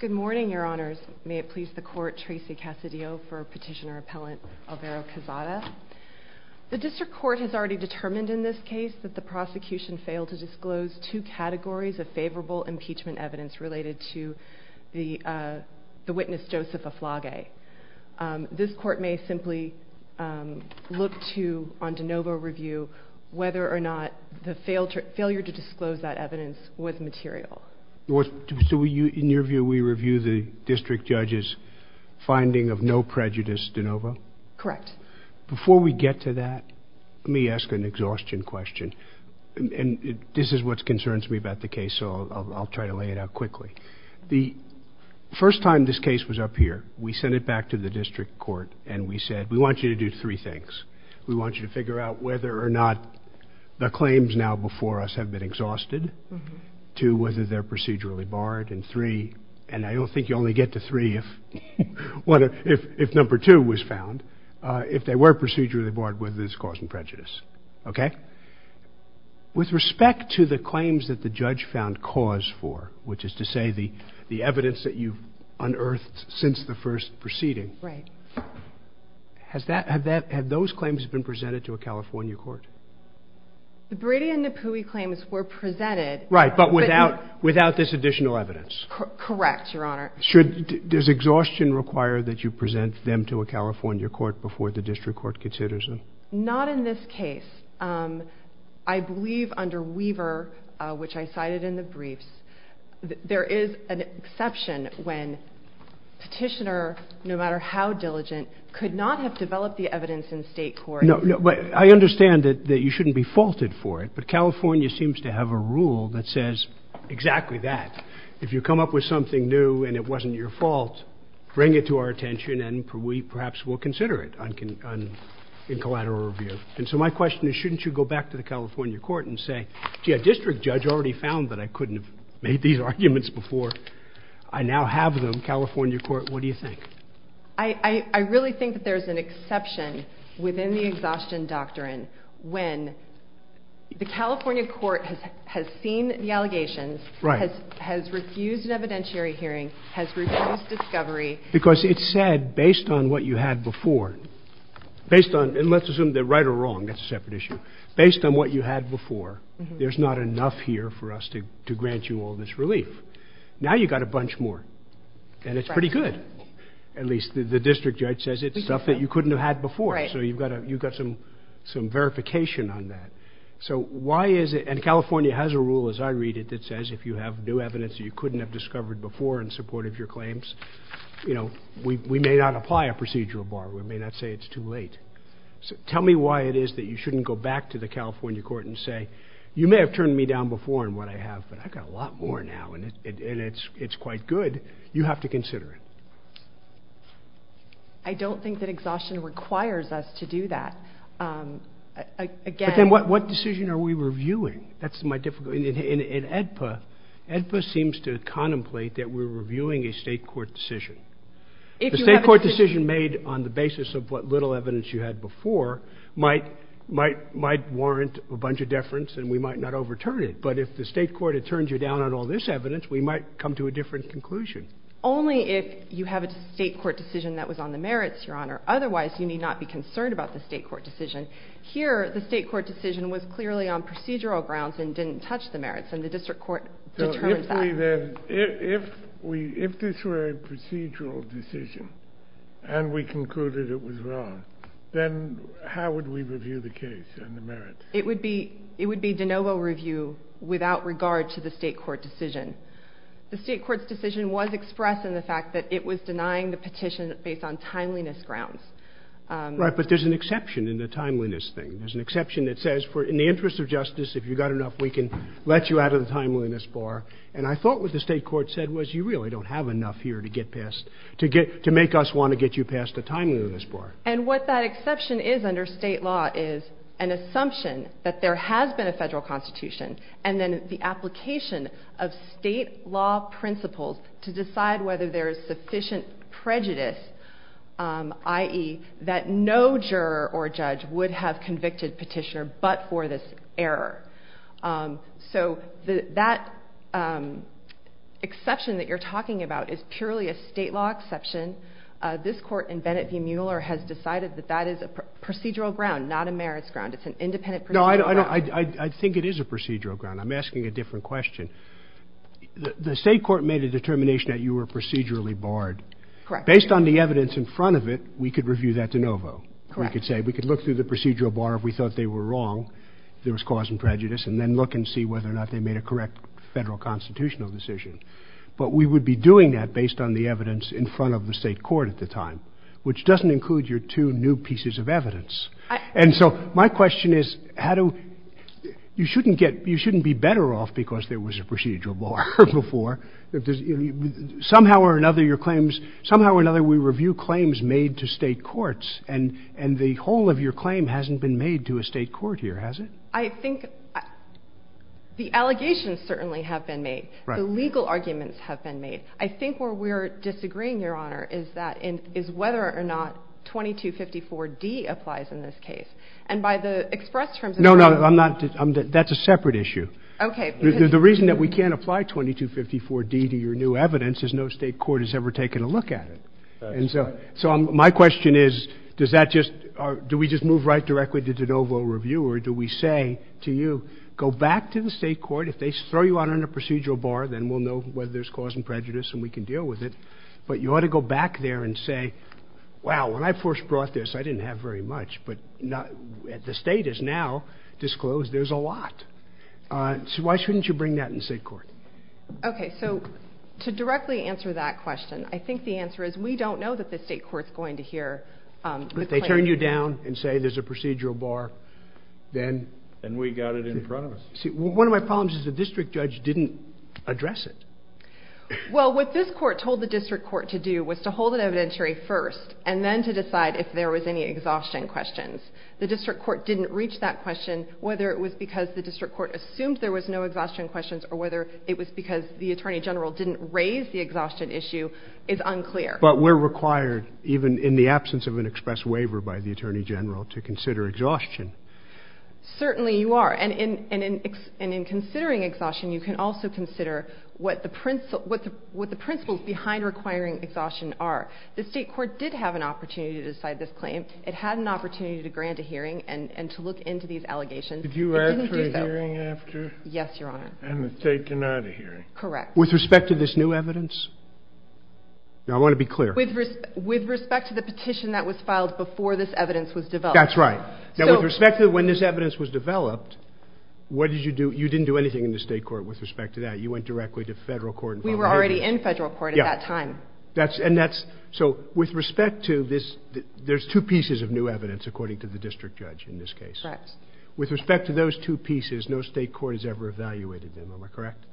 Good morning, Your Honors. May it please the Court, Tracy Cassidio for Petitioner-Appellant Alvaro Quezada. The District Court has already determined in this case that the prosecution failed to disclose two categories of favorable impeachment evidence related to the witness Joseph Aflage. This Court may simply look to, on de novo review, whether or not the prosecution failed to disclose that evidence with material. So in your view, we review the District Judge's finding of no prejudice de novo? Correct. Before we get to that, let me ask an exhaustion question. And this is what concerns me about the case, so I'll try to lay it out quickly. The first time this case was up here, we sent it back to the District Court and we said, we want you to do three things. We want you to figure out whether or not the claims now before us have been exhausted, two, whether they're procedurally barred, and three, and I don't think you only get to three if number two was found, if they were procedurally barred, whether it's cause and prejudice. Okay? With respect to the claims that the judge found cause for, which is to say the evidence that you've unearthed since the first proceeding, have those claims been presented to you? To a California court? The Brady and Napoui claims were presented. Right, but without this additional evidence. Correct, Your Honor. Does exhaustion require that you present them to a California court before the District Court considers them? Not in this case. I believe under Weaver, which I cited in the briefs, there is an exception when petitioner, no matter how diligent, could not have developed the evidence in state court. I understand that you shouldn't be faulted for it, but California seems to have a rule that says exactly that. If you come up with something new and it wasn't your fault, bring it to our attention and we perhaps will consider it in collateral review. And so my question is shouldn't you go back to the California court and say, gee, a district judge already found that I couldn't have made these arguments before. I now have them. California court, what do you think? I really think that there's an exception within the exhaustion doctrine when the California court has seen the allegations, has refused an evidentiary hearing, has refused discovery. Because it said, based on what you had before, based on, and let's assume they're right or wrong, that's a separate issue. Based on what you had before, there's not enough here for us to grant you all this relief. Now you've got a bunch more. And it's pretty good. At least the district judge says it's stuff that you couldn't have had before. So you've got some verification on that. So why is it, and California has a rule as I read it that says if you have new evidence that you couldn't have discovered before in support of your claims, we may not apply a procedural bar. We may not say it's too late. So tell me why it is that you shouldn't go back to the California court and say, you may have turned me down before in what I have, but I've got a lot more now, and it's quite good. You have to consider it. I don't think that exhaustion requires us to do that. Again... What decision are we reviewing? That's my difficulty. In AEDPA, AEDPA seems to contemplate that we're reviewing a state court decision. The state court decision made on the basis of what little evidence you had before might warrant a bunch of deference, and we might not overturn it, but if the state court had turned you down on all this evidence, we might come to a different conclusion. Only if you have a state court decision that was on the merits, Your Honor. Otherwise, you need not be concerned about the state court decision. Here, the state court decision was clearly on procedural grounds and didn't touch the merits, and the district court determined that. If this were a procedural decision and we concluded it was wrong, then how would we review the case and the merits? It would be de novo review without regard to the state court decision. The state court decision was expressed in the fact that it was denying the petition based on timeliness grounds. Right, but there's an exception in the timeliness thing. There's an exception that says, in the interest of justice, if you've got enough, we can let you out of the timeliness bar. And I thought what the state court said was, you really don't have enough here to make us want to get you past the timeliness bar. And what that exception is under state law is an assumption that there has been a federal constitution, and then the application of state law principles to decide whether there is sufficient prejudice, i.e., that no juror or judge would have convicted petitioner but for this error. So that exception that you're talking about is purely a state law exception. This Court in Bennett v. Mueller has decided that that is a procedural ground, not a merits ground. It's an independent procedural ground. No, I think it is a procedural ground. I'm asking a different question. The state court made a determination that you were procedurally barred. Correct. Based on the evidence in front of it, we could review that de novo, we could say. We could look through the procedural bar if we thought they were wrong, there was cause and prejudice, and then look and see whether or not they made a correct federal constitutional decision. But we would be doing that based on the evidence in front of the state court at the time, which doesn't include your two new pieces of evidence. And so my question is, how do – you shouldn't get – you shouldn't be better off because there was a procedural bar before. Somehow or another, your claims – somehow or another, we review claims made to state courts, and the whole of your claim hasn't been made to a state court here, has it? I think the allegations certainly have been made. Right. The legal arguments have been made. I think where we're disagreeing, Your Honor, is that – is whether or not 2254d applies in this case. And by the express terms of the – No, no, I'm not – that's a separate issue. Okay. The reason that we can't apply 2254d to your new evidence is no state court has ever taken a look at it. That's right. And so – so my question is, does that just – do we just move right directly to de novo review, or do we say to you, go back to the state court. If they throw you out on a procedural bar, then we'll know whether there's cause and prejudice and we can deal with it. But you ought to go back there and say, wow, when I first brought this, I didn't have very much, but now – the state is now disclosed there's a lot. So why shouldn't you bring that in state court? Okay. So to directly answer that question, I think the answer is we don't know that the state court's going to hear the claims. If they turn you down and say there's a procedural bar, then – Then we got it in front of us. See, one of my problems is the district judge didn't address it. Well, what this court told the district court to do was to hold it evidentiary first and then to decide if there was any exhaustion questions. The district court didn't reach that question. Whether it was because the district court assumed there was no exhaustion questions or whether it was because the attorney general didn't raise the exhaustion issue is unclear. But we're required, even in the absence of an express waiver by the attorney general, to consider exhaustion. Certainly you are. And in considering exhaustion, you can also consider what the principles behind requiring exhaustion are. The state court did have an opportunity to decide this claim. It had an opportunity to grant a hearing and to look into these allegations. It didn't do so. Did you ask for a hearing after? Yes, Your Honor. And the state denied a hearing. Correct. With respect to this new evidence? Now, I want to be clear. With respect to the petition that was filed before this evidence was developed. That's right. Now, with respect to when this evidence was developed, what did you do? You didn't do anything in the state court with respect to that. You went directly to federal court. We were already in federal court at that time. So with respect to this, there's two pieces of new evidence, according to the district judge in this case. Correct. With respect to those two pieces, no state court has ever evaluated them. Am I correct?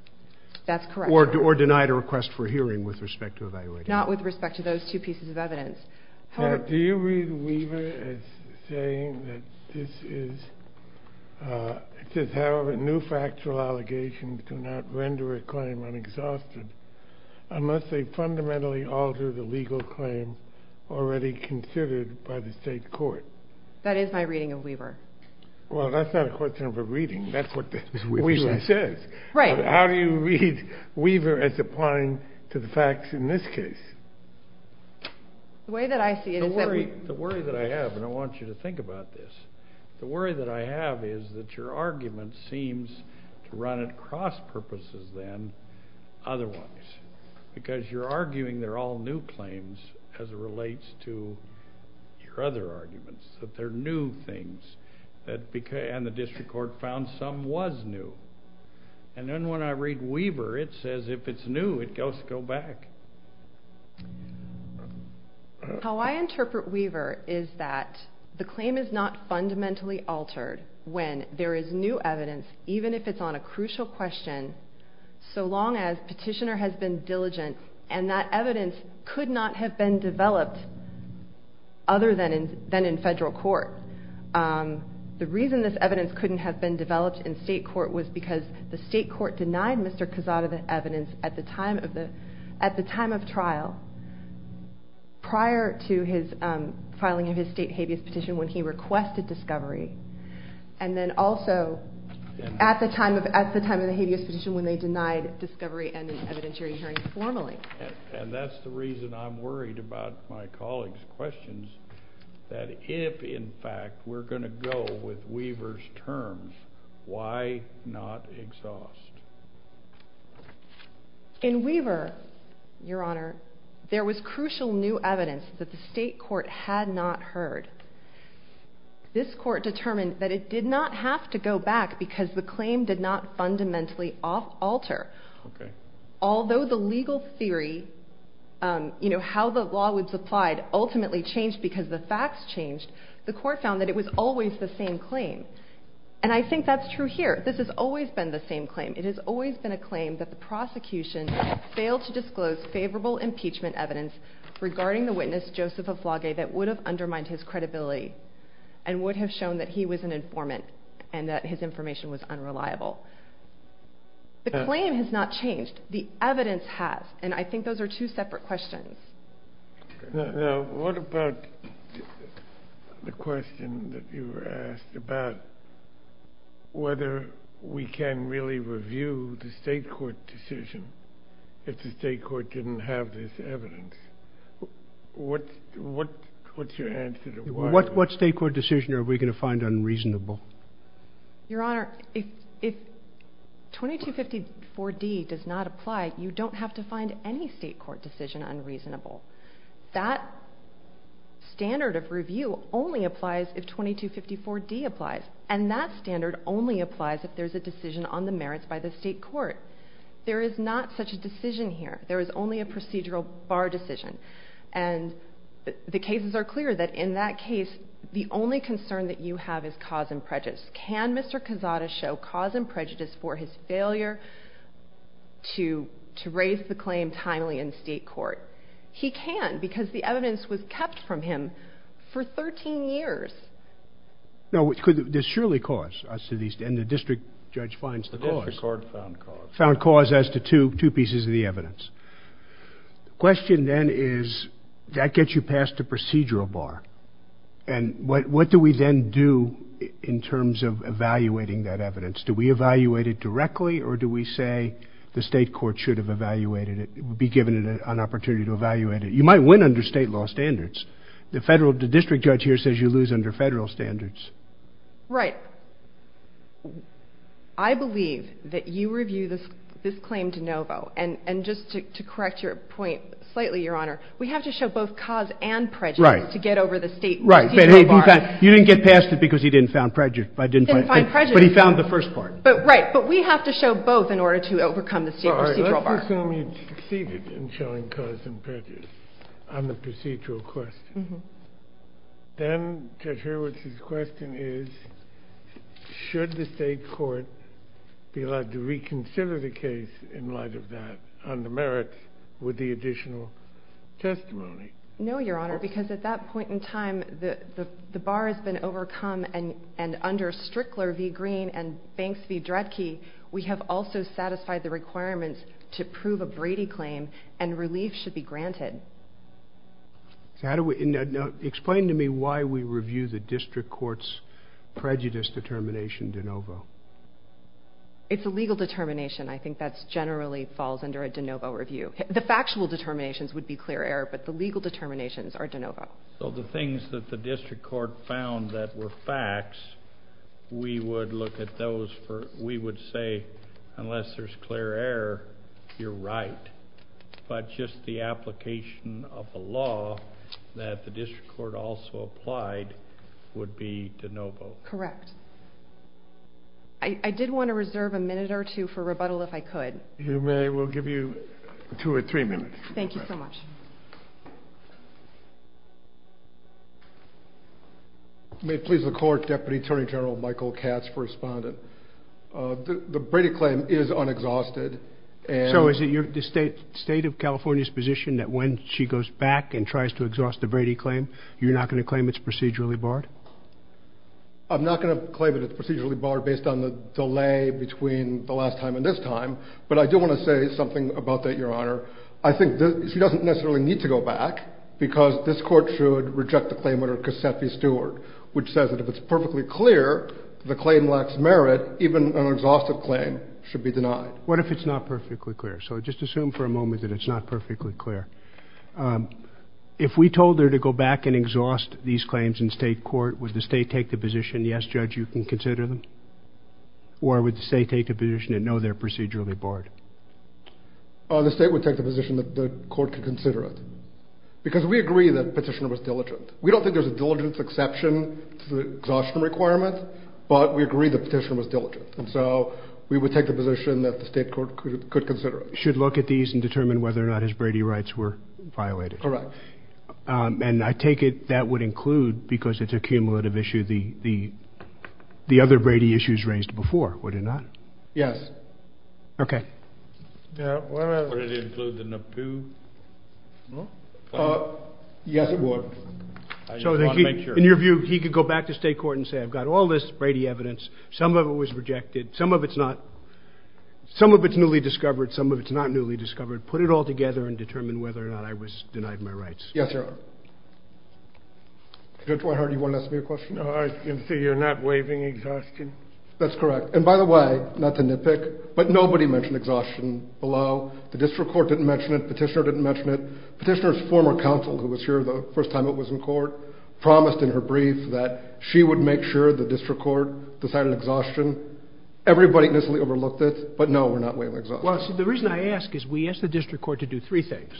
That's correct. Or denied a request for a hearing with respect to evaluating them. Not with respect to those two pieces of evidence. Now, do you read Weaver as saying that this is, it says, however, new factual allegations do not render a claim unexhausted unless they fundamentally alter the legal claim already considered by the state court? That is my reading of Weaver. Well, that's not a question of a reading. That's what Weaver says. Right. But how do you read Weaver as applying to the facts in this case? The way that I see it is that we... The worry that I have, and I want you to think about this, the worry that I have is that your argument seems to run at cross purposes then, otherwise, because you're arguing they're all new claims as it relates to your other arguments, that they're new things, and the way when I read Weaver, it says if it's new, it goes to go back. How I interpret Weaver is that the claim is not fundamentally altered when there is new evidence, even if it's on a crucial question, so long as petitioner has been diligent and that evidence could not have been developed other than in federal court. The reason this evidence couldn't have been developed in state court was because the state court denied Mr. Cazada the evidence at the time of trial prior to his filing of his state habeas petition when he requested discovery, and then also at the time of the habeas petition when they denied discovery and an evidentiary hearing formally. That's the reason I'm worried about my colleague's questions, that if, in fact, we're going to deal with Weaver's terms, why not exhaust? In Weaver, your honor, there was crucial new evidence that the state court had not heard. This court determined that it did not have to go back because the claim did not fundamentally alter. Okay. Although the legal theory, you know, how the law was applied ultimately changed because the facts changed, the court found that it was always the same claim, and I think that's true here. This has always been the same claim. It has always been a claim that the prosecution failed to disclose favorable impeachment evidence regarding the witness, Joseph Oflage, that would have undermined his credibility and would have shown that he was an informant and that his information was unreliable. The claim has not changed. The evidence has, and I think those are two separate questions. Now, what about the question that you were asked about whether we can really review the state court decision if the state court didn't have this evidence? What's your answer to why? What state court decision are we going to find unreasonable? Your Honor, if 2254D does not apply, you don't have to find any state court decision unreasonable. That standard of review only applies if 2254D applies, and that standard only applies if there's a decision on the merits by the state court. There is not such a decision here. There is only a procedural bar decision, and the cases are clear that in that case, the only concern that you have is cause and prejudice. Can Mr. Cazada show cause and prejudice for his failure to raise the claim timely in state court? He can, because the evidence was kept from him for 13 years. Now, there's surely cause, and the district judge finds the cause. The district court found cause. Found cause as to two pieces of the evidence. The question then is, that gets you past the procedural bar, and what do we then do in terms of evaluating that evidence? Do we evaluate it directly, or do we say the state court should have evaluated it, be given an opportunity to evaluate it? You might win under state law standards. The district judge here says you lose under federal standards. Right. I believe that you review this claim de novo, and just to correct your point slightly, Your Honor, we have to show both cause and prejudice to get over the state procedural bar. Right. You didn't get past it because he didn't find prejudice. He didn't find prejudice. But he found the first part. Right. But we have to show both in order to overcome the state procedural bar. All right. Let's assume you succeeded in showing cause and prejudice on the procedural question. Then Judge Hurwitz's question is, should the state court be allowed to reconsider the case in light of that, on the merits, with the additional testimony? No, Your Honor, because at that point in time, the bar has been overcome, and under Strickler v. Green and Banks v. Dredke, we have also satisfied the requirements to prove a Brady claim, and relief should be granted. Now, explain to me why we review the district court's prejudice determination de novo. It's a legal determination. I think that generally falls under a de novo review. The factual determinations would be clear error, but the legal determinations are de novo. So the things that the district court found that were facts, we would look at those. We would say, unless there's clear error, you're right. But just the application of the law that the district court also applied would be de novo. Correct. I did want to reserve a minute or two for rebuttal if I could. You may. We'll give you two or three minutes. Thank you so much. May it please the court, Deputy Attorney General Michael Katz, for responding. The Brady claim is unexhausted. So is it the state of California's position that when she goes back and tries to exhaust the Brady claim, you're not going to claim it's procedurally barred? I'm not going to claim that it's procedurally barred based on the delay between the last time and this time, but I do want to say something about that, Your Honor. I think she doesn't necessarily need to go back because this court should reject the claim under Casseffi-Stewart, which says that if it's perfectly clear the claim lacks merit, even an exhaustive claim should be denied. What if it's not perfectly clear? So just assume for a moment that it's not perfectly clear. If we told her to go back and exhaust these claims in state court, would the state take the position, yes, Judge, you can consider them? Or would the state take the position that, no, they're procedurally barred? The state would take the position that the court could consider it. Because we agree that the petitioner was diligent. We don't think there's a diligence exception to the exhaustion requirement, but we agree the petitioner was diligent. And so we would take the position that the state court could consider it. Should look at these and determine whether or not his Brady rights were violated. Correct. And I take it that would include, because it's a cumulative issue, the other Brady issues raised before, would it not? Yes. Okay. Yeah. Would it include the NAPU? Yes, it would. So in your view, he could go back to state court and say, I've got all this Brady evidence. Some of it was rejected. Some of it's not. Some of it's newly discovered. Some of it's not newly discovered. Put it all together and determine whether or not I was denied my rights. Yes, sir. Judge Whitehart, do you want to ask me a question? I can see you're not waiving exhaustion. That's correct. And by the way, not to nitpick, but nobody mentioned exhaustion below. The district court didn't mention it. Petitioner didn't mention it. Petitioner's former counsel, who was here the first time it was in court, promised in her brief that she would make sure the district court decided exhaustion. Everybody initially overlooked it. But no, we're not waiving exhaustion. Well, see, the reason I ask is we asked the district court to do three things.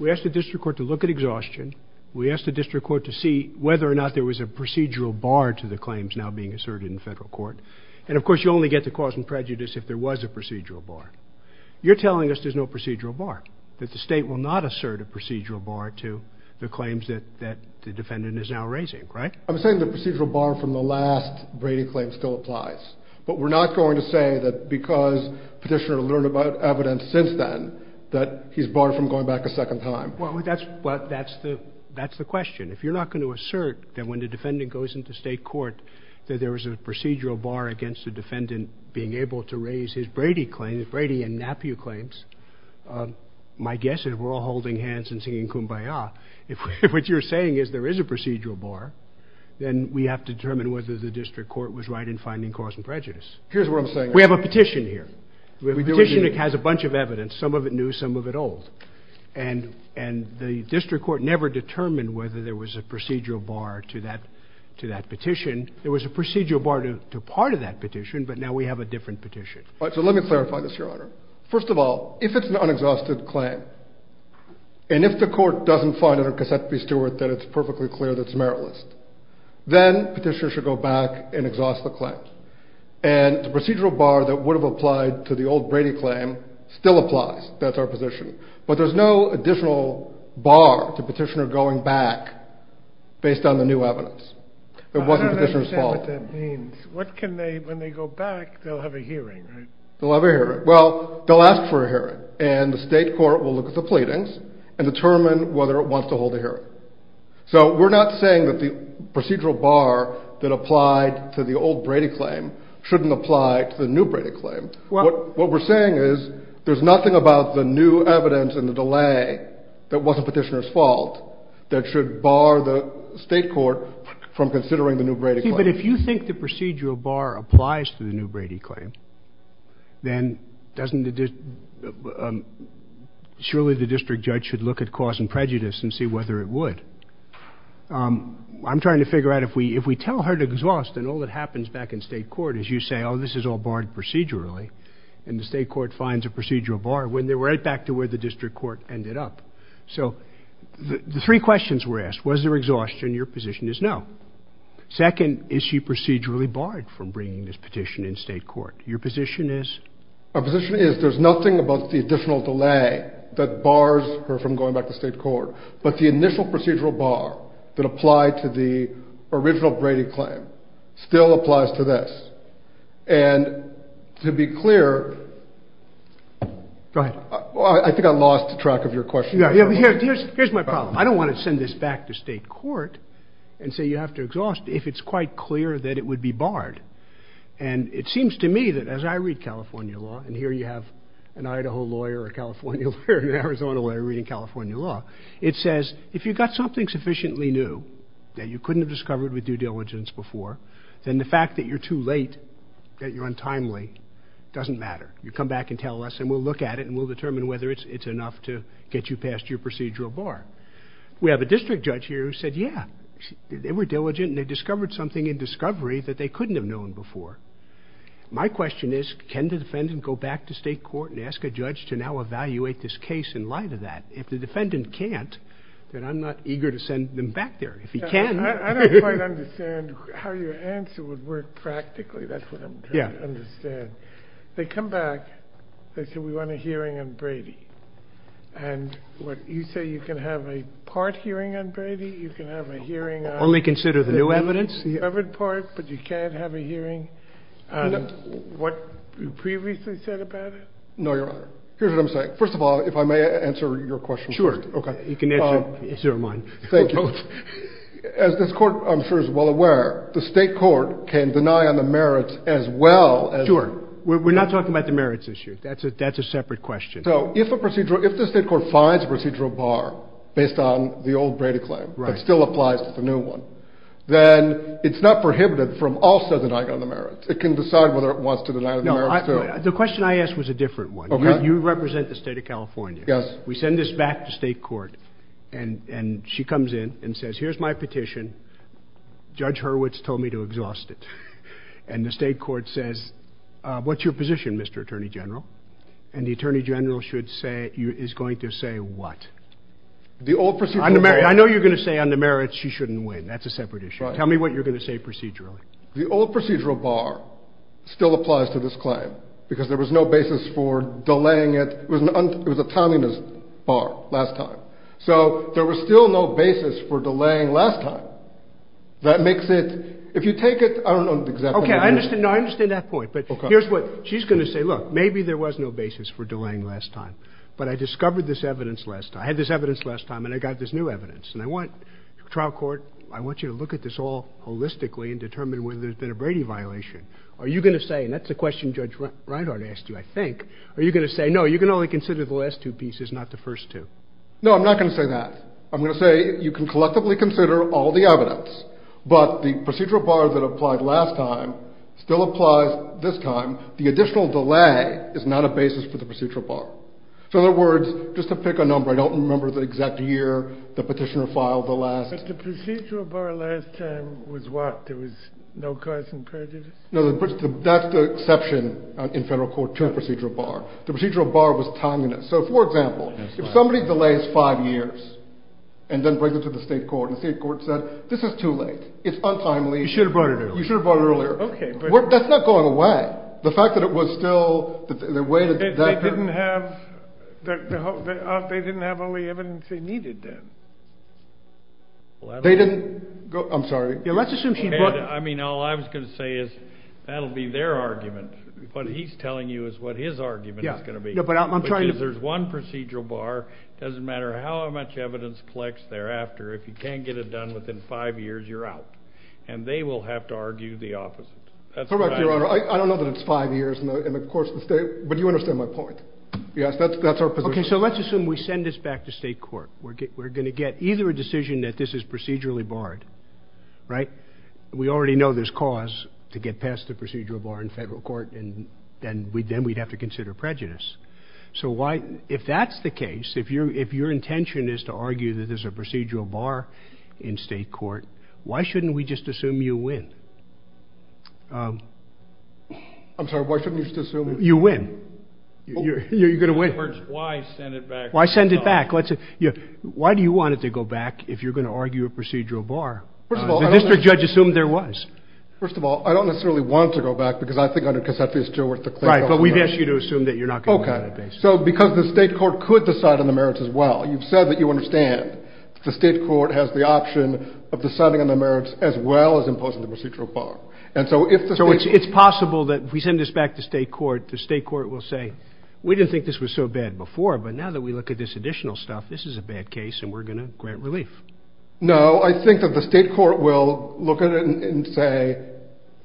We asked the district court to look at exhaustion. We asked the district court to see whether or not there was a procedural bar to the claims now being asserted in federal court. And of course, you only get the cause and prejudice if there was a procedural bar. You're telling us there's no procedural bar, that the state will not assert a procedural bar to the claims that the defendant is now raising, right? I'm saying the procedural bar from the last Brady claim still applies. But we're not going to say that because Petitioner learned about evidence since then that he's barred from going back a second time. Well, that's the question. If you're not going to assert that when the defendant goes into state court that there was a procedural bar against the defendant being able to raise his Brady claims, Brady and Napier claims, my guess is we're all holding hands and singing kumbaya. If what you're saying is there is a procedural bar, then we have to determine whether the district court was right in finding cause and prejudice. Here's what I'm saying. We have a petition here. We have a petition that has a bunch of evidence. Some of it new, some of it old. And the district court never determined whether there was a procedural bar to that petition. There was a procedural bar to part of that petition, but now we have a different petition. All right, so let me clarify this, Your Honor. First of all, if it's an unexhausted claim, and if the court doesn't find under Cassette v. Stewart that it's perfectly clear that it's meritless, then Petitioner should go back and exhaust the claim. And the procedural bar that would have applied to the old Brady claim still applies. That's our position. But there's no additional bar to Petitioner going back based on the new evidence. It wasn't Petitioner's fault. I don't understand what that means. What can they, when they go back, they'll have a hearing, right? They'll have a hearing. Well, they'll ask for a hearing, and the state court will look at the pleadings and determine whether it wants to hold a hearing. So we're not saying that the procedural bar that applied to the old Brady claim shouldn't apply to the new Brady claim. What we're saying is there's nothing about the new evidence and the delay that wasn't Petitioner's fault that should bar the state court from considering the new Brady claim. But if you think the procedural bar applies to the new Brady claim, then surely the district judge should look at cause and prejudice and see whether it would. I'm trying to figure out if we tell her to exhaust and all that happens back in state court is you say, oh, this is all barred procedurally, and the state court finds a procedural bar when they're right back to where the district court ended up. So the three questions were asked. Was there exhaustion? Your position is no. Second, is she procedurally barred from bringing this petition in state court? Your position is? Our position is there's nothing about the additional delay that bars her from going back to state court. But the initial procedural bar that applied to the original Brady claim still applies to this. And to be clear, I think I lost track of your question. Here's my problem. I don't want to send this back to state court and say you have to exhaust if it's quite clear that it would be barred. And it seems to me that as I read California law, and here you have an Idaho lawyer, a California lawyer, an Arizona lawyer reading California law. It says if you've got something sufficiently new that you couldn't have discovered with due diligence before, then the fact that you're too late, that you're untimely, doesn't matter. You come back and tell us and we'll look at it and we'll determine whether it's enough to get you past your procedural bar. We have a district judge here who said, yeah, they were diligent and they discovered something in discovery that they couldn't have known before. My question is, can the defendant go back to state court and ask a judge to now evaluate this case in light of that? If the defendant can't, then I'm not eager to send them back there. If he can... I don't quite understand how your answer would work practically. That's what I'm trying to understand. They come back, they say, we want a hearing on Brady. And what you say, you can have a part hearing on Brady, you can have a hearing on... Only consider the new evidence. The covered part, but you can't have a hearing on what you previously said about it? No, Your Honor. Here's what I'm saying. First of all, if I may answer your question first. Sure. Okay. You can answer mine. Thank you. As this court, I'm sure, is well aware, the state court can deny on the merits as well Sure. We're not talking about the merits this year. That's a separate question. So, if the state court finds a procedural bar based on the old Brady claim, that still applies to the new one, then it's not prohibited from also denying on the merits. It can decide whether it wants to deny on the merits too. The question I asked was a different one. You represent the state of California. We send this back to state court and she comes in and says, here's my petition. Judge Hurwitz told me to exhaust it. And the state court says, what's your position, Mr. Attorney General? And the Attorney General should say, is going to say what? The old procedural... I know you're going to say on the merits she shouldn't win. That's a separate issue. Tell me what you're going to say procedurally. The old procedural bar still applies to this claim because there was no basis for delaying it. It was a timeliness bar last time. So there was still no basis for delaying last time. That makes it... If you take it... I don't know exactly... Okay. I understand that point. But here's what she's going to say. Look, maybe there was no basis for delaying last time, but I discovered this evidence last time. I had this evidence last time and I got this new evidence and I want trial court, I want you to look at this all holistically and determine whether there's been a Brady violation. Are you going to say, and that's a question Judge Reinhart asked you, I think, are you going to say, no, you can only consider the last two pieces, not the first two? No, I'm not going to say that. I'm going to say you can collectively consider all the evidence, but the procedural bar that applied last time still applies this time. The additional delay is not a basis for the procedural bar. So in other words, just to pick a number, I don't remember the exact year, the petitioner filed the last... But the procedural bar last time was what? There was no cause and prejudice? No, that's the exception in federal court to a procedural bar. The procedural bar was timeliness. So for example, if somebody delays five years and then brings it to the state court and the state court said, this is too late, it's untimely. You should have brought it earlier. You should have brought it earlier. Okay, but... That's not going away. The fact that it was still, the way that the debtor... They didn't have all the evidence they needed then. They didn't... I'm sorry? Yeah, let's assume she brought... I mean, all I was going to say is, that'll be their argument. What he's telling you is what his argument is going to be. But I'm trying to... Because there's one procedural bar, it doesn't matter how much evidence collects thereafter, if you can't get it done within five years, you're out. And they will have to argue the opposite. That's what I... Correct, Your Honor. I don't know that it's five years in the course of the state, but you understand my point. Yes, that's our position. Okay, so let's assume we send this back to state court. We're going to get either a decision that this is procedurally barred, right? We already know there's cause to get past the procedural bar in federal court, and then we'd have to consider prejudice. So why... If that's the case, if your intention is to argue that there's a procedural bar in state court, why shouldn't we just assume you win? I'm sorry, why shouldn't we just assume... You win. You're going to win. It hurts. Why send it back? Why send it back? Let's... Why do you want it to go back if you're going to argue a procedural bar? First of all, I don't... The district judge assumed there was. First of all, I don't necessarily want it to go back because I think it's still worth Right, but we've asked you to assume that you're not going to win on that basis. Okay. So because the state court could decide on the merits as well. You've said that you understand the state court has the option of deciding on the merits as well as imposing the procedural bar. And so if the state... So it's possible that if we send this back to state court, the state court will say, we didn't think this was so bad before, but now that we look at this additional stuff, this is a bad case and we're going to grant relief. No, I think that the state court will look at it and say,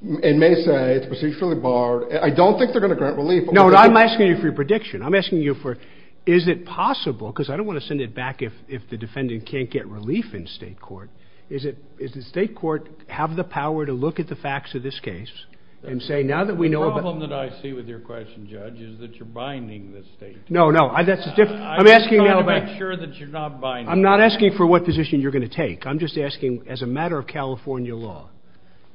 and may say it's procedurally barred. I don't think they're going to grant relief. No. I'm asking you for your prediction. I'm asking you for, is it possible, because I don't want to send it back if, if the defendant can't get relief in state court. Is it, is the state court have the power to look at the facts of this case and say, now that we know... The problem that I see with your question, Judge, is that you're binding the state. No, no. That's a different... I'm asking now about... I'm trying to make sure that you're not binding. I'm not asking for what position you're going to take. I'm just asking as a matter of California law.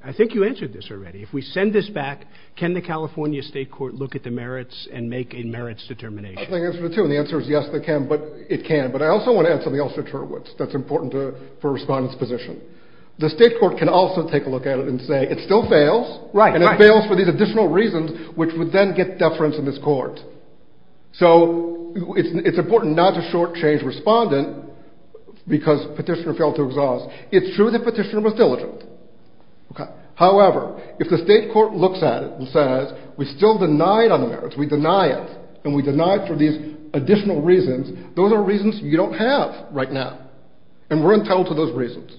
I think you answered this already. If we send this back, can the California state court look at the merits and make a merits determination? I think that's the answer too. And the answer is yes, they can, but it can. But I also want to add something else to Turwitz that's important to, for respondent's position. The state court can also take a look at it and say, it still fails, and it fails for these additional reasons, which would then get deference in this court. So it's, it's important not to shortchange respondent because petitioner failed to exhaust. It's true that petitioner was diligent. Okay. However, if the state court looks at it and says, we still deny it on the merits, we deny it, and we deny it for these additional reasons, those are reasons you don't have right now. And we're entitled to those reasons.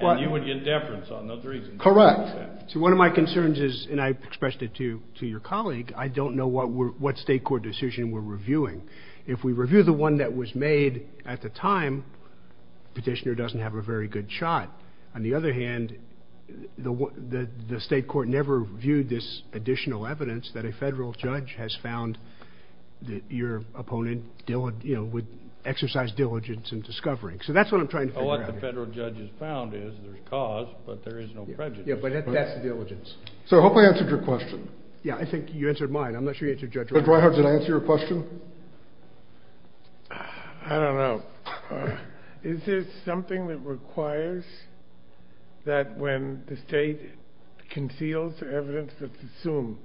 And you would get deference on those reasons. Correct. So one of my concerns is, and I expressed it to, to your colleague. I don't know what we're, what state court decision we're reviewing. If we review the one that was made at the time, petitioner doesn't have a very good shot. On the other hand, the, the, the state court never viewed this additional evidence that a federal judge has found that your opponent, you know, would exercise diligence in discovering. So that's what I'm trying to figure out. So what the federal judge has found is there's cause, but there is no prejudice. Yeah, but that's the diligence. So hopefully I answered your question. Yeah, I think you answered mine. I'm not sure you answered Judge Reinhardt's. Judge Reinhardt, did I answer your question? I don't know. Is this something that requires that when the state conceals the evidence, let's assume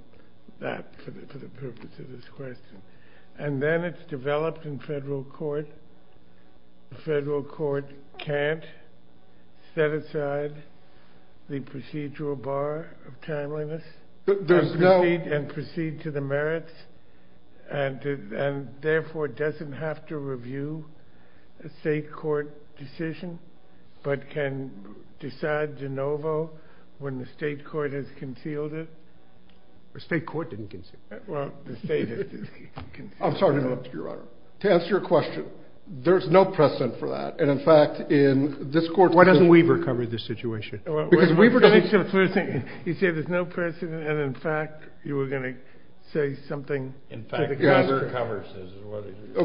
that for the purpose of this question, and then it's developed in federal court, the federal court can't set aside the procedural bar of timeliness and proceed to the merits and therefore doesn't have to review a state court decision, but can decide de novo when the state court has concealed it? State court didn't conceal it. Well, the state has concealed it. I'm sorry to interrupt you, Your Honor. To answer your question, there's no precedent for that. And in fact, in this court... Why doesn't Weaver cover this situation? Because Weaver doesn't... You said there's no precedent. And in fact, you were going to say something else.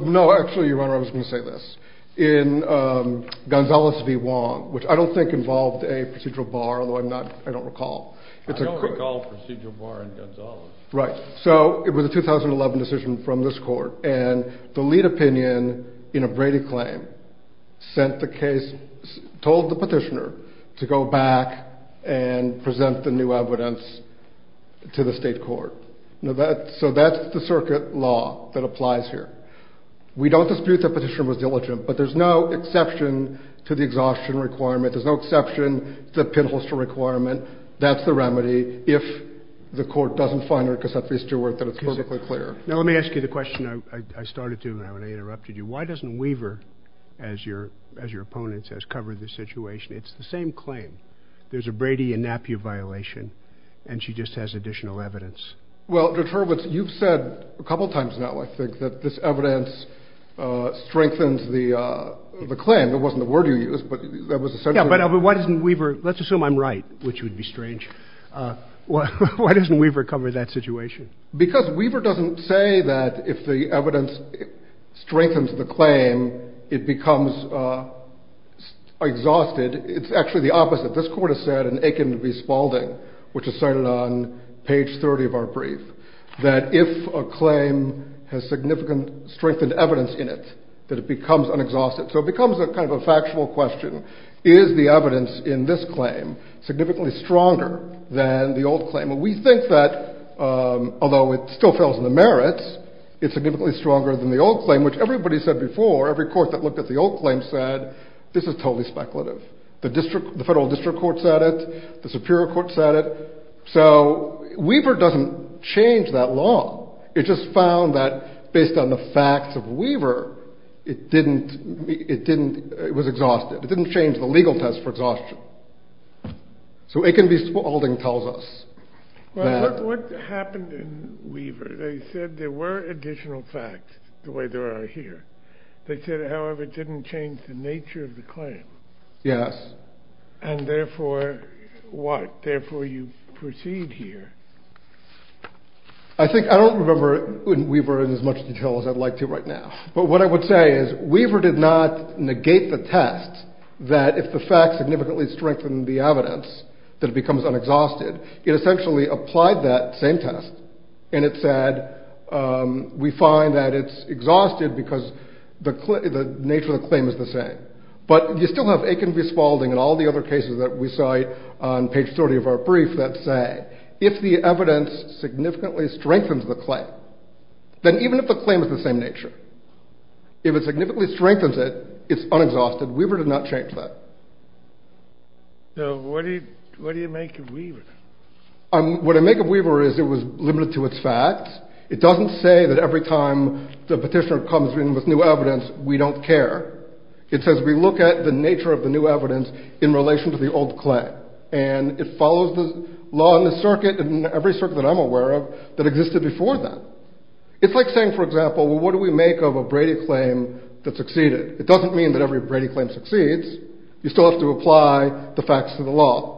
No, actually, Your Honor, I was going to say this. In Gonzales v. Wong, which I don't think involved a procedural bar, although I don't recall. I don't recall a procedural bar in Gonzales. Right. So it was a 2011 decision from this court, and the lead opinion in a Brady claim sent the case, told the petitioner to go back and present the new evidence to the state court. So that's the circuit law that applies here. We don't dispute that petitioner was diligent, but there's no exception to the exhaustion requirement. There's no exception to the pinholster requirement. That's the remedy. If the court doesn't find her, Cassandra Stewart, then it's perfectly clear. Now let me ask you the question I started to when I interrupted you. Why doesn't Weaver, as your opponent says, cover this situation? It's the same claim. There's a Brady and Napier violation, and she just has additional evidence. Well, Judge Hurwitz, you've said a couple times now, I think, that this evidence strengthens the claim. It wasn't the word you used, but that was essential. Yeah, but why doesn't Weaver, let's assume I'm right, which would be strange. Why doesn't Weaver cover that situation? Because Weaver doesn't say that if the evidence strengthens the claim, it becomes exhausted. It's actually the opposite. This court has said in Aiken v. Spalding, which is cited on page 30 of our brief, that if a claim has significant strengthened evidence in it, that it becomes unexhausted. So it becomes a kind of a factual question. Is the evidence in this claim significantly stronger than the old claim? We think that, although it still fails in the merits, it's significantly stronger than the old claim, which everybody said before, every court that looked at the old claim said this is totally speculative. The federal district court said it, the superior court said it. So Weaver doesn't change that law. It just found that based on the facts of Weaver, it was exhausted. It didn't change the legal test for exhaustion. So Aiken v. Spalding tells us that... What happened in Weaver, they said there were additional facts, the way there are here. They said, however, it didn't change the nature of the claim. Yes. And therefore, what, therefore you proceed here. I think, I don't remember Weaver in as much detail as I'd like to right now, but what I would say is Weaver did not negate the test that if the facts significantly strengthened the evidence, that it becomes unexhausted. It essentially applied that same test and it said, we find that it's exhausted because the nature of the claim is the same, but you still have Aiken v. Spalding and all the other cases that we cite on page 30 of our brief that say, if the evidence significantly strengthens the claim, then even if the claim is the same nature, if it significantly strengthens it, it's unexhausted. Weaver did not change that. So what do you make of Weaver? What I make of Weaver is it was limited to its facts. It doesn't say that every time the petitioner comes in with new evidence, we don't care. It says, we look at the nature of the new evidence in relation to the old claim. And it follows the law in the circuit and every circuit that I'm aware of that existed before that. It's like saying, for example, well, what do we make of a Brady claim that succeeded? It doesn't mean that every Brady claim succeeds. You still have to apply the facts to the law.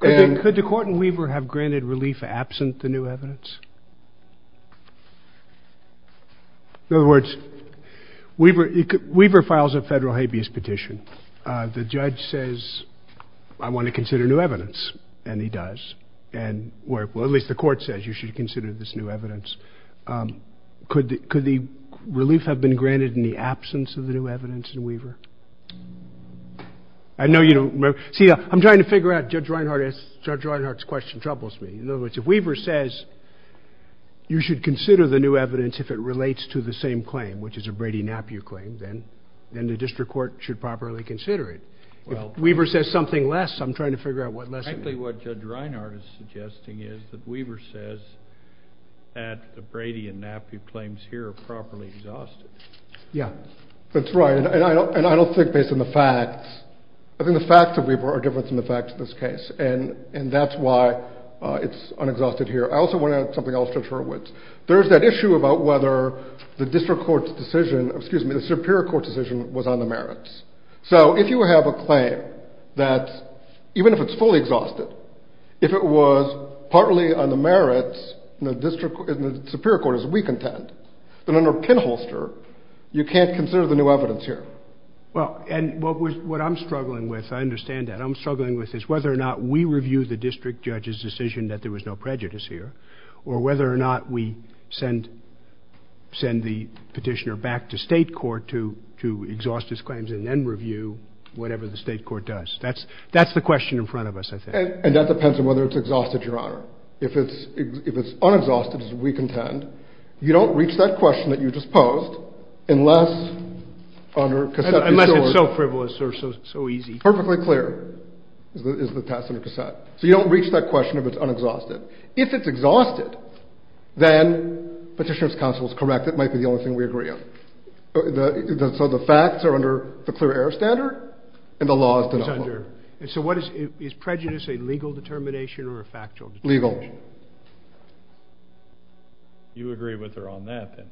Could the court in Weaver have granted relief absent the new evidence? In other words, Weaver files a federal habeas petition. The judge says, I want to consider new evidence. And he does. Well, at least the court says you should consider this new evidence. Could the relief have been granted in the absence of the new evidence in Weaver? I know you don't remember. See, I'm trying to figure out, Judge Reinhardt's question troubles me. In other words, if Weaver says you should consider the new evidence if it relates to the same claim, which is a Brady-Napiew claim, then the district court should properly consider it. If Weaver says something less, I'm trying to figure out what less it means. Frankly, what Judge Reinhardt is suggesting is that Weaver says that the Brady and Napiew claims here are properly exhausted. Yeah, that's right. And I don't think based on the facts, I think the facts of Weaver are different from the facts of this case. And that's why it's unexhausted here. I also want to add something else, Judge Hurwitz. There's that issue about whether the district court's decision, excuse me, the Superior Court's decision was on the merits. So if you have a claim that, even if it's fully exhausted, if it was partly on the merits, the Superior Court is of weak intent, then under pinholster, you can't consider the new evidence here. Well, and what I'm struggling with, I understand that, I'm struggling with is whether or not we review the district judge's decision that there was no prejudice here, or whether or not we send the petitioner back to state court to exhaust his claims and then review whatever the state court does. That's the question in front of us, I think. And that depends on whether it's exhausted, Your Honor. If it's unexhausted, as we contend, you don't reach that question that you just posed unless under cassette. Unless it's so frivolous or so easy. Perfectly clear is the task under cassette. So you don't reach that question if it's unexhausted. If it's exhausted, then Petitioner's counsel is correct, it might be the only thing we agree on. So the facts are under the clear error standard, and the law is to know. So what is, is prejudice a legal determination or a factual determination? Legal. You agree with her on that, then?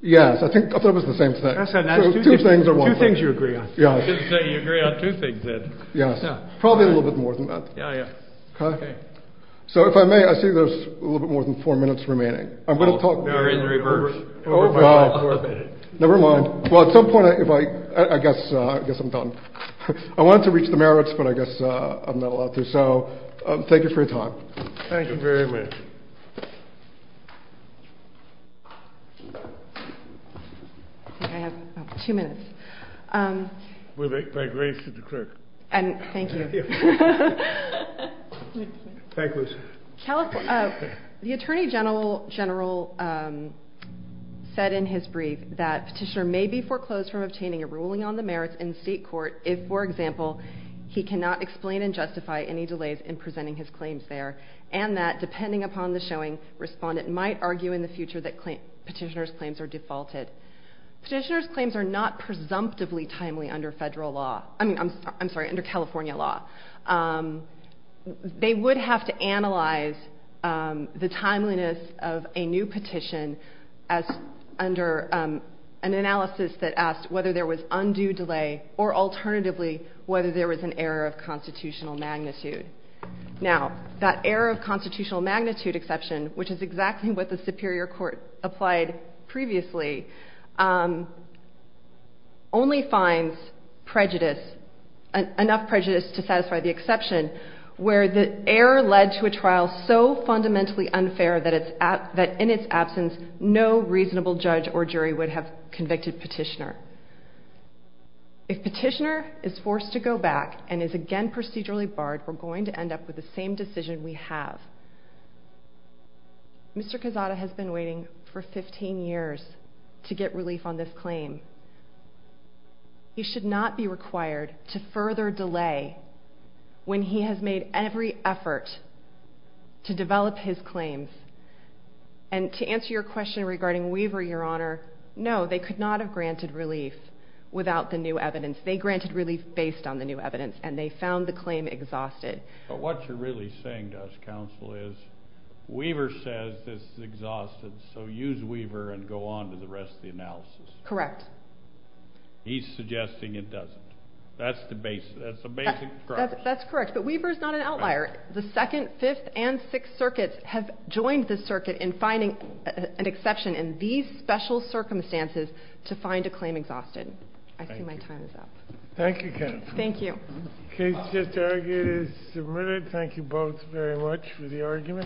Yes, I think, I thought it was the same thing. I said that's two things you agree on. Yeah, you agree on two things, Ed. Yes, probably a little bit more than that. Yeah, yeah. OK. So if I may, I see there's a little bit more than four minutes remaining. I'm going to talk. We're in reverse. Oh, wow. Never mind. Well, at some point, if I, I guess, I guess I'm done. I wanted to reach the merits, but I guess I'm not allowed to. So thank you for your time. Thank you very much. I think I have two minutes. We'll make my grace to the clerk. And thank you. Thank you. The Attorney General said in his brief that Petitioner may be foreclosed from obtaining a ruling on the merits in state court if, for example, he cannot explain and justify any delays in presenting his claims there, and that depending upon the showing, Respondent might argue in the future that Petitioner's claims are defaulted. Petitioner's claims are not presumptively timely under federal law. I mean, I'm sorry, under California law. They would have to analyze the timeliness of a new petition as under an analysis that asked whether there was undue delay, or alternatively, whether there was an error of constitutional magnitude. Now, that error of constitutional magnitude exception, which is exactly what the Superior Court applied previously, only finds enough prejudice to satisfy the exception where the error led to a trial so fundamentally unfair that in its absence, no reasonable judge or jury would have convicted Petitioner. If Petitioner is forced to go back and is again procedurally barred, we're going to end up with the same decision we have. Mr. Quezada has been waiting for 15 years to get relief on this claim. He should not be required to further delay when he has made every effort to develop his claims. And to answer your question regarding Weaver, Your Honor, no, they could not have granted relief without the new evidence. They granted relief based on the new evidence, and they found the claim exhausted. But what you're really saying to us, counsel, is Weaver says this is exhausted, so use Weaver and go on to the rest of the analysis. Correct. He's suggesting it doesn't. That's the basic premise. That's correct. But Weaver is not an outlier. The Second, Fifth, and Sixth Circuits have joined the circuit in finding an exception in these special circumstances to find a claim exhausted. I see my time is up. Thank you, counsel. Thank you. Case just argued is submitted. Thank you both very much for the argument.